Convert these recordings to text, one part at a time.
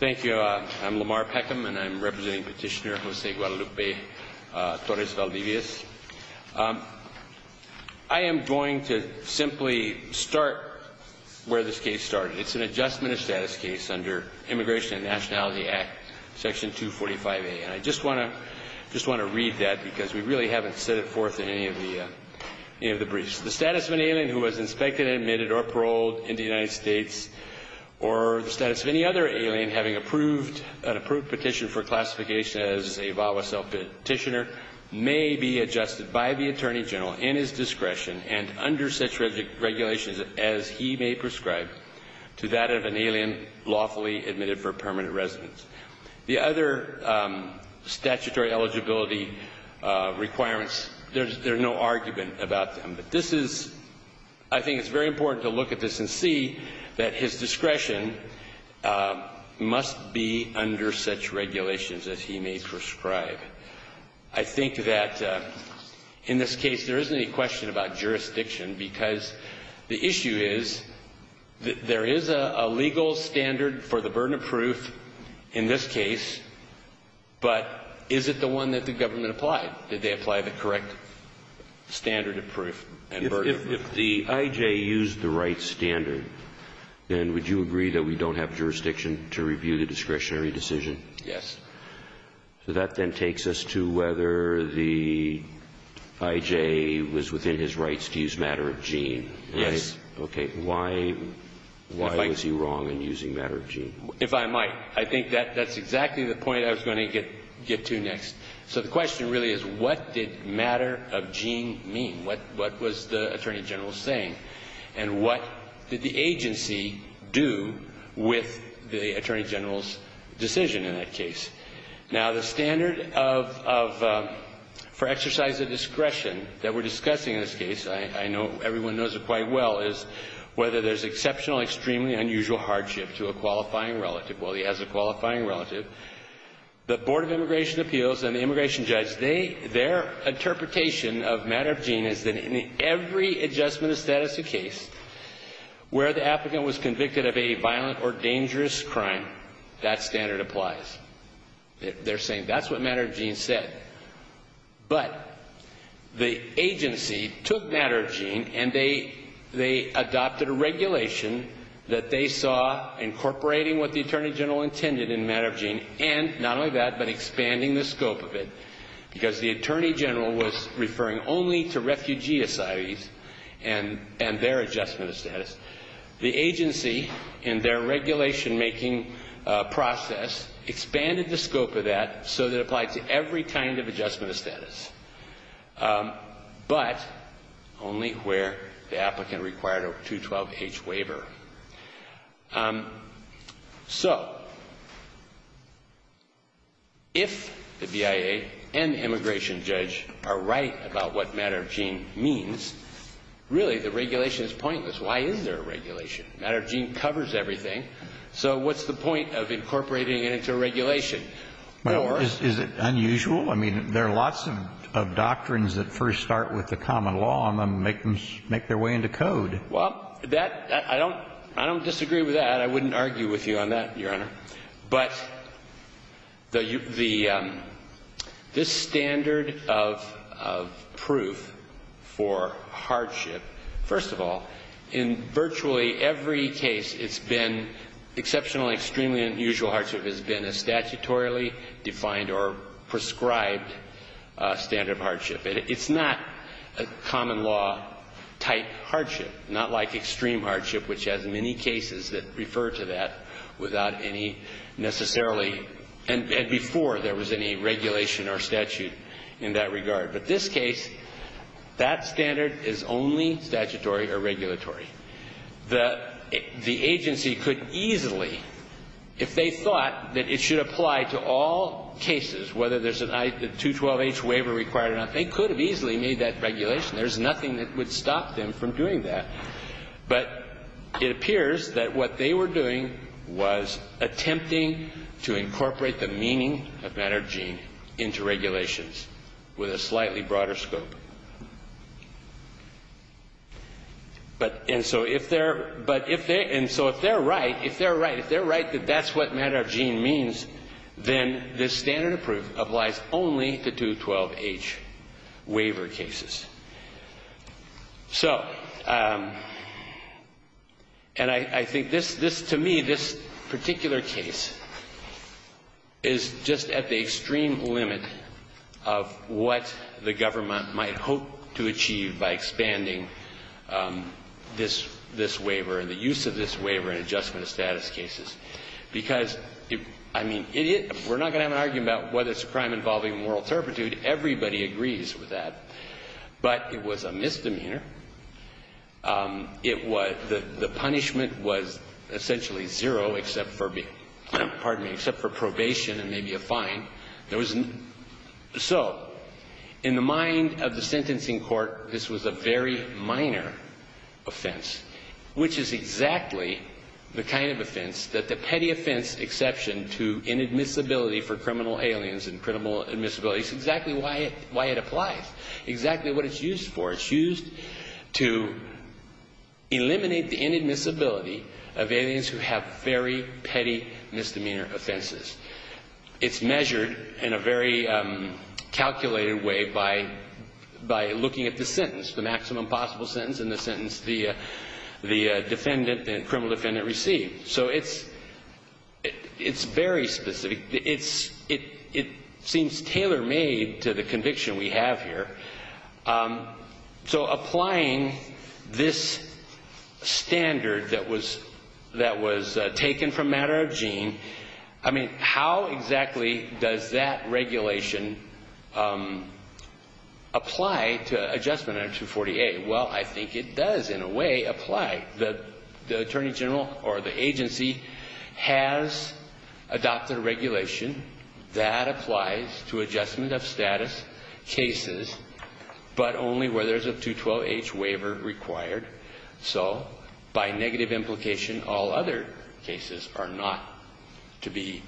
Thank you. I'm Lamar Peckham, and I'm representing Petitioner José Guadalupe Torres-Valdivias. I am going to simply start where this case started. It's an adjustment of status case under Immigration and Nationality Act, Section 245A. And I just want to read that because we really haven't set it forth in any of the briefs. The status of an alien who was inspected, admitted, or paroled in the United States or the status of any other alien having an approved petition for classification as a VAWA self-petitioner may be adjusted by the Attorney General in his discretion and under such regulations as he may prescribe to that of an alien lawfully admitted for permanent residence. The other statutory eligibility requirements, there's no argument about them. But this is – I think it's very important to look at this and see that his discretion must be under such regulations as he may prescribe. I think that in this case there isn't any question about jurisdiction because the issue is that there is a legal standard for the burden of proof in this case, but is it the one that the government applied? Did they apply the correct standard of proof and burden of proof? If the I.J. used the right standard, then would you agree that we don't have jurisdiction to review the discretionary decision? Yes. So that then takes us to whether the I.J. was within his rights to use matter of gene. Yes. Okay. Why was he wrong in using matter of gene? If I might. I think that's exactly the point I was going to get to next. So the question really is what did matter of gene mean? What was the Attorney General saying? And what did the agency do with the Attorney General's decision in that case? Now, the standard of – for exercise of discretion that we're discussing in this case, I know everyone knows it quite well, is whether there's exceptional, extremely unusual hardship to a qualifying relative. Well, he has a qualifying relative. The Board of Immigration Appeals and the immigration judge, they – their interpretation of matter of gene is that in every adjustment of status of case where the applicant was convicted of a violent or dangerous crime, that standard applies. They're saying that's what matter of gene said. But the agency took matter of gene and they adopted a regulation that they saw incorporating what the Attorney General intended in matter of gene and, not only that, but expanding the scope of it because the Attorney General was referring only to refugee societies and their adjustment of status. The agency, in their regulation-making process, expanded the scope of that so that it applied to every kind of adjustment of status, but only where the applicant required a 212H waiver. So, if the BIA and the immigration judge are right about what matter of gene means, really the regulation is pointless. Why is there a regulation? Matter of gene covers everything, so what's the point of incorporating it into a regulation? Is it unusual? I mean, there are lots of doctrines that first start with the common law and then make them – make their way into code. Well, that – I don't – I don't disagree with that. I wouldn't argue with you on that, Your Honor. But the – this standard of proof for hardship, first of all, in virtually every case it's been – exceptional, extremely unusual hardship has been a statutorily defined or prescribed standard of hardship. It's not a common law type hardship, not like extreme hardship, which has many cases that refer to that without any necessarily – and before there was any regulation or statute in that regard. But this case, that standard is only statutory or regulatory. The agency could easily, if they thought that it should apply to all cases, whether there's a 212H waiver required or not, they could have easily made that regulation. There's nothing that would stop them from doing that. But it appears that what they were doing was attempting to incorporate the meaning of matter of gene into regulations with a slightly broader scope. But – and so if they're – but if they – and so if they're right, if they're right, if they're right that that's what matter of gene means, then this standard of proof applies only to 212H waiver cases. So – and I think this – this, to me, this particular case is just at the extreme limit of what the government might hope to achieve by expanding this – this waiver and the use of this waiver in adjustment of status cases. Because, I mean, we're not going to have an argument about whether it's a crime involving moral turpitude. Everybody agrees with that. But it was a misdemeanor. It was – the punishment was essentially zero except for – pardon me – except for probation and maybe a fine. There was – so in the mind of the sentencing court, this was a very minor offense, which is exactly the kind of offense that the petty offense exception to inadmissibility for criminal aliens and criminal admissibilities, exactly why it – why it applies, exactly what it's used for. It's used to eliminate the inadmissibility of aliens who have very petty misdemeanor offenses. It's measured in a very calculated way by – by looking at the sentence, the maximum possible sentence and the sentence the defendant, the criminal defendant, received. So it's – it's very specific. It's – it seems tailor-made to the conviction we have here. So applying this standard that was – that was taken from matter of gene, I mean, how exactly does that regulation apply to adjustment under 248? Well, I think it does in a way apply. The attorney general or the agency has adopted a regulation that applies to adjustment of status cases but only where there's a 212H waiver required. So by negative implication, all other cases are not to be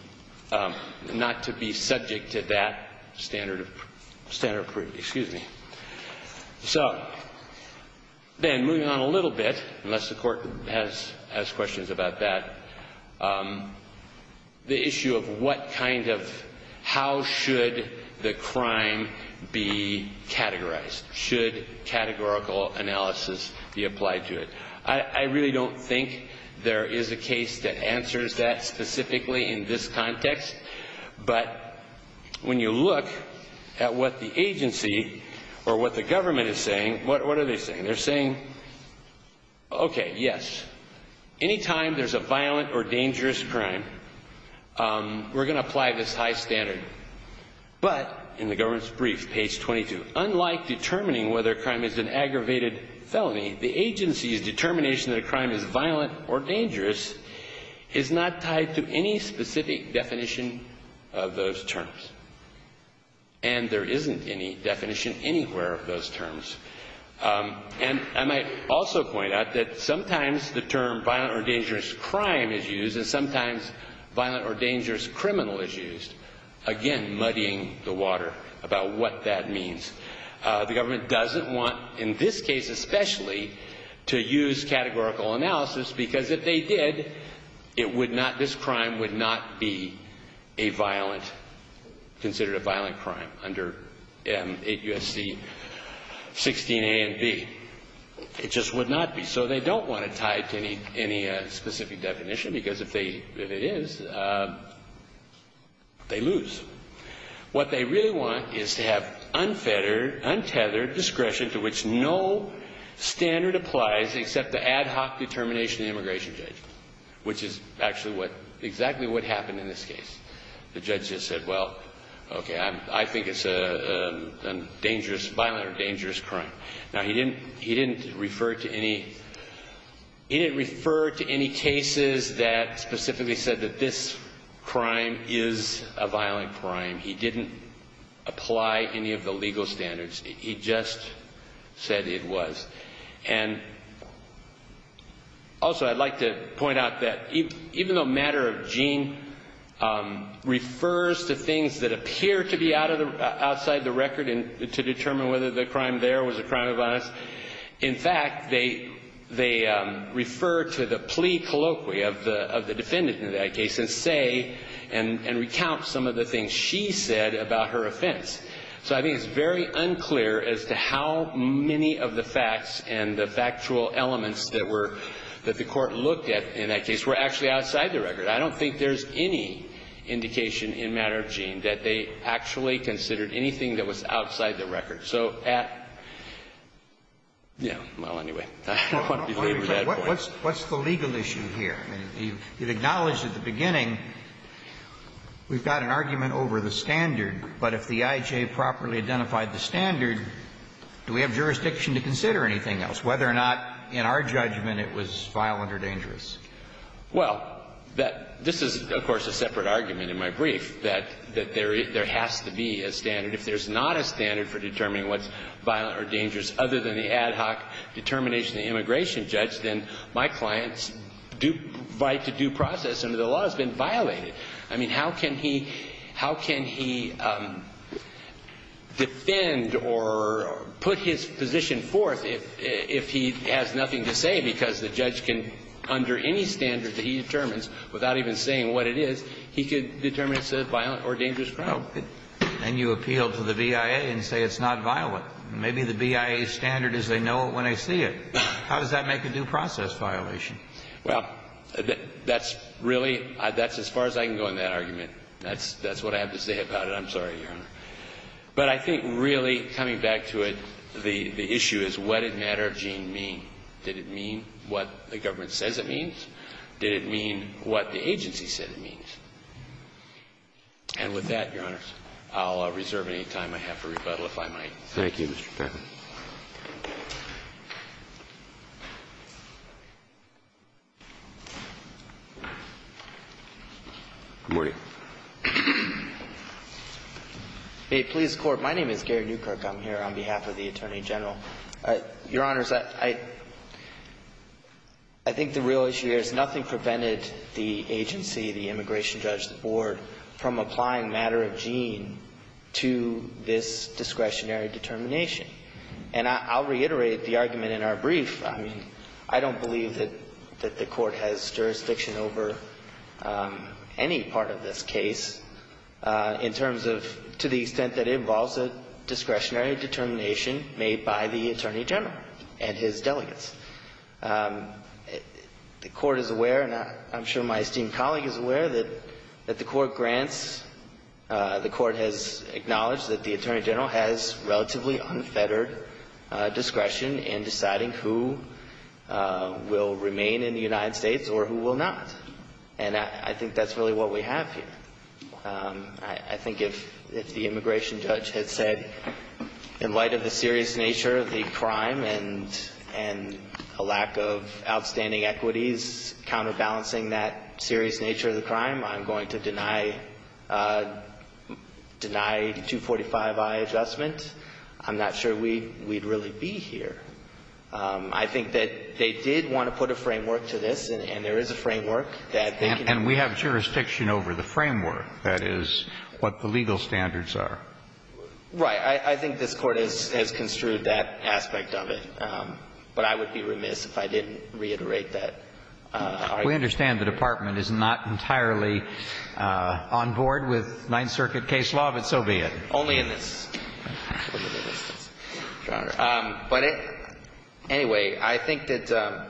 – not to be subject to that standard of – standard of – excuse me. So then moving on a little bit, unless the Court has – has questions about that, the issue of what kind of – how should the crime be categorized? Should categorical analysis be applied to it? I really don't think there is a case that answers that specifically in this context. But when you look at what the agency or what the government is saying, what are they saying? They're saying, okay, yes, anytime there's a violent or dangerous crime, we're going to apply this high standard. But in the government's brief, page 22, unlike determining whether a crime is an aggravated felony, the agency's determination that a crime is violent or dangerous is not tied to any specific definition of those terms. And there isn't any definition anywhere of those terms. And I might also point out that sometimes the term violent or dangerous crime is used and sometimes violent or dangerous criminal is used, again, muddying the water about what that means. The government doesn't want, in this case especially, to use categorical analysis because if they did, it would not – this crime would not be a violent – considered a violent crime under 8 U.S.C. 16a and b. It just would not be. So they don't want it tied to any specific definition because if they – if it is, they lose. What they really want is to have unfettered, untethered discretion to which no standard applies except the ad hoc determination of the immigration judge, which is actually what – exactly what happened in this case. The judge just said, well, okay, I think it's a dangerous – violent or dangerous crime. Now, he didn't refer to any – he didn't refer to any cases that specifically said that this crime is a violent crime. He didn't apply any of the legal standards. He just said it was. And also I'd like to point out that even though matter of gene refers to things that appear to be outside the record to determine whether the crime there was a crime of violence, in fact, they refer to the plea colloquy of the defendant in that case and say and recount some of the things she said about her offense. So I think it's very unclear as to how many of the facts and the factual elements that were – that the Court looked at in that case were actually outside the record. I don't think there's any indication in matter of gene that they actually considered anything that was outside the record. So at – yeah. Well, anyway. I don't want to belabor that point. What's the legal issue here? You've acknowledged at the beginning we've got an argument over the standard, but if the IJ properly identified the standard, do we have jurisdiction to consider anything else, whether or not in our judgment it was violent or dangerous? Well, that – this is, of course, a separate argument in my brief, that there has to be a standard. If there's not a standard for determining what's violent or dangerous other than the ad hoc determination of the immigration judge, then my client's right to due process under the law has been violated. I mean, how can he – how can he defend or put his position forth if he has nothing to say because the judge can, under any standard that he determines, without even saying what it is, he could determine it's a violent or dangerous crime. And you appeal to the BIA and say it's not violent. Maybe the BIA's standard is they know it when they see it. How does that make a due process violation? Well, that's really – that's as far as I can go in that argument. That's what I have to say about it. I'm sorry, Your Honor. But I think really, coming back to it, the issue is what did Matter of Gene mean? Did it mean what the government says it means? Did it mean what the agency said it means? And with that, Your Honors, I'll reserve any time I have for rebuttal, if I might. Thank you, Mr. Taffer. Good morning. Hey, police court. My name is Gary Newkirk. I'm here on behalf of the Attorney General. Your Honors, I think the real issue here is nothing prevented the agency, the immigration judge, the board, from applying Matter of Gene to this discretionary determination. And I'll reiterate the argument in our brief. I mean, I don't believe that the Court has jurisdiction over any part of this case in terms of to the extent that it involves a discretionary determination made by the Attorney General and his delegates. The Court is aware, and I'm sure my esteemed colleague is aware, that the Court grants the Court has acknowledged that the Attorney General has relatively unfettered discretion in deciding who will remain in the United States or who will not. And I think that's really what we have here. I think if the immigration judge had said, in light of the serious nature of the crime and a lack of outstanding equities counterbalancing that serious nature of the crime, I'm going to deny 245i adjustment, I'm not sure we'd really be here. I think that they did want to put a framework to this, and there is a framework that they can And we have jurisdiction over the framework. That is what the legal standards are. Right. I think this Court has construed that aspect of it. But I would be remiss if I didn't reiterate that argument. We understand the Department is not entirely on board with Ninth Circuit case law, but so be it. Only in this. But anyway, I think that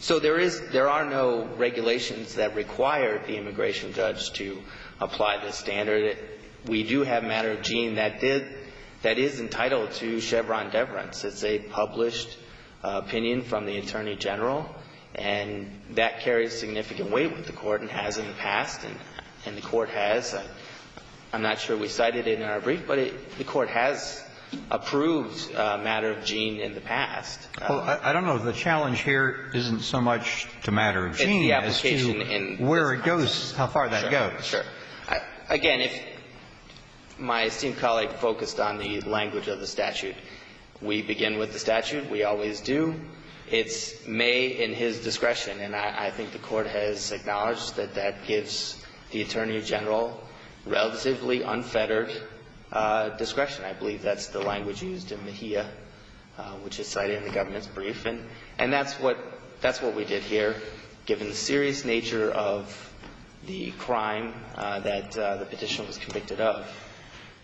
so there is no regulations that require the immigration judge to apply this standard. We do have a matter of gene that did, that is entitled to Chevron deference. It's a published opinion from the Attorney General. And that carries significant weight with the Court and has in the past. And the Court has, I'm not sure we cited it in our brief, but the Court has approved a matter of gene in the past. Well, I don't know if the challenge here isn't so much to matter of gene as to where it goes, how far that goes. Sure. Again, if my esteemed colleague focused on the language of the statute, we begin with the statute. We always do. It's may in his discretion. And I think the Court has acknowledged that that gives the Attorney General relatively unfettered discretion. I believe that's the language used in Mejia, which is cited in the government's brief. And that's what, that's what we did here, given the serious nature of the crime that the Petitioner was convicted of.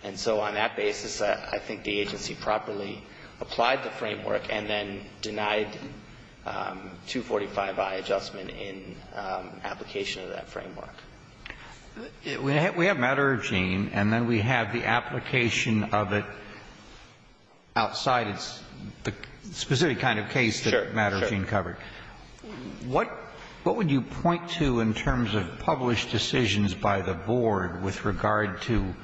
And so on that basis, I think the agency properly applied the framework and then denied 245i adjustment in application of that framework. We have matter of gene, and then we have the application of it outside its specific And that's the kind of case that matter of gene covered. Sure, sure. What would you point to in terms of published decisions by the Board with regard to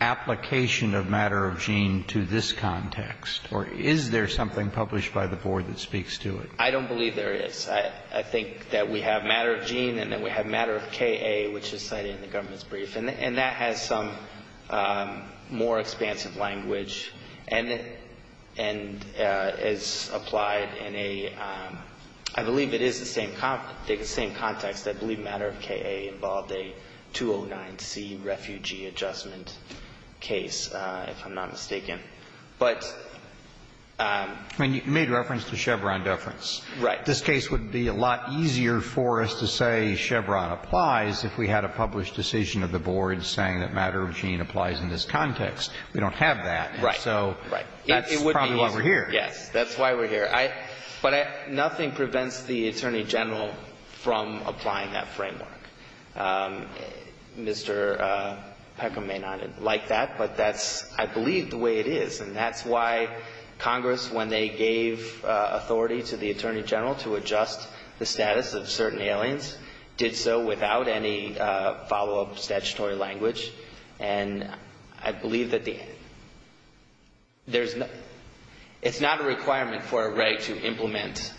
application of matter of gene to this context? Or is there something published by the Board that speaks to it? I don't believe there is. I think that we have matter of gene and then we have matter of KA, which is cited in the government's brief. And that has some more expansive language and is applied in a, I believe it is the same context. I believe matter of KA involved a 209C refugee adjustment case, if I'm not mistaken. But you made reference to Chevron deference. Right. This case would be a lot easier for us to say Chevron applies if we had a published decision of the Board saying that matter of gene applies in this context. We don't have that. Right. So that's probably why we're here. Yes. That's why we're here. But nothing prevents the Attorney General from applying that framework. Mr. Peckham may not like that, but that's, I believe, the way it is. And that's why Congress, when they gave authority to the Attorney General to adjust the status of certain aliens, did so without any follow-up statutory language. And I believe that the, there's no, it's not a requirement for a reg to implement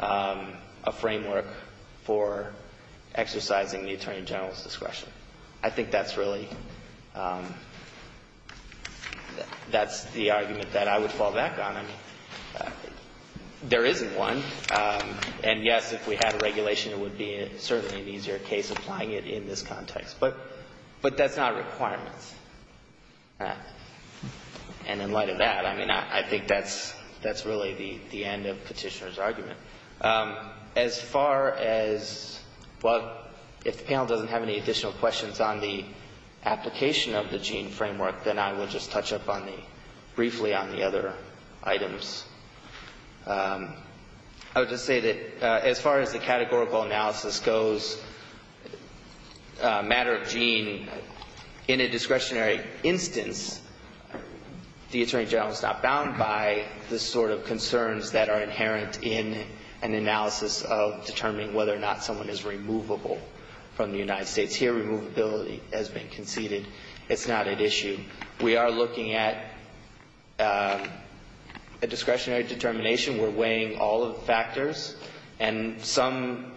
a framework for exercising the Attorney General's discretion. I think that's really, that's the argument that I would fall back on. There isn't one. And, yes, if we had a regulation, it would be certainly an easier case applying it in this context. But that's not a requirement. And in light of that, I mean, I think that's really the end of Petitioner's argument. As far as, well, if the panel doesn't have any additional questions on the application of the Gene framework, then I will just touch up on the, briefly on the other items. I would just say that as far as the categorical analysis goes, a matter of Gene, in a discretionary instance, the Attorney General is not bound by the sort of concerns that are inherent in an analysis of determining whether or not someone is removable from the United States. Here, removability has been conceded. It's not at issue. We are looking at a discretionary determination. We're weighing all of the factors. And some,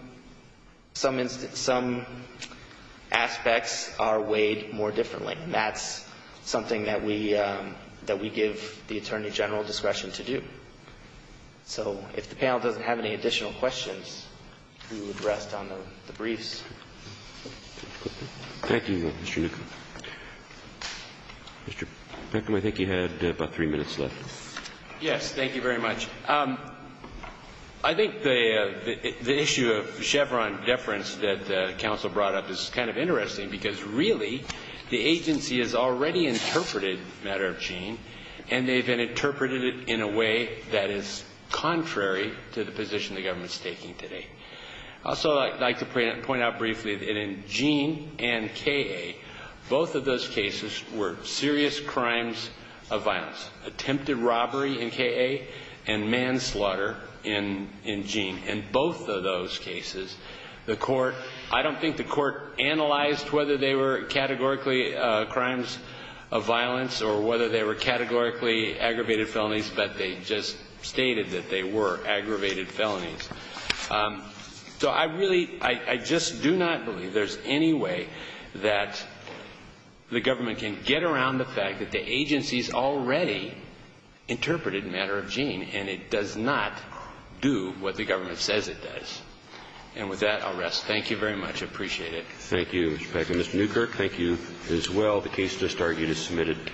some aspects are weighed more differently. And that's something that we, that we give the Attorney General discretion to do. So if the panel doesn't have any additional questions, we would rest on the briefs. Thank you, Mr. Newcombe. Mr. Newcombe, I think you had about three minutes left. Yes. Thank you very much. I think the issue of Chevron deference that counsel brought up is kind of interesting because, really, the agency has already interpreted the matter of Gene, and they've interpreted it in a way that is contrary to the position the government is taking Also, I'd like to point out briefly that in Gene and K.A., both of those cases were serious crimes of violence, attempted robbery in K.A. and manslaughter in Gene. In both of those cases, the court, I don't think the court analyzed whether they were categorically crimes of violence or whether they were categorically aggravated felonies, but they just stated that they were aggravated felonies. So I really, I just do not believe there's any way that the government can get around the fact that the agency's already interpreted the matter of Gene and it does not do what the government says it does. And with that, I'll rest. Thank you very much. I appreciate it. Thank you, Mr. Packer. Mr. Newkirk, thank you as well. The case just argued is submitted.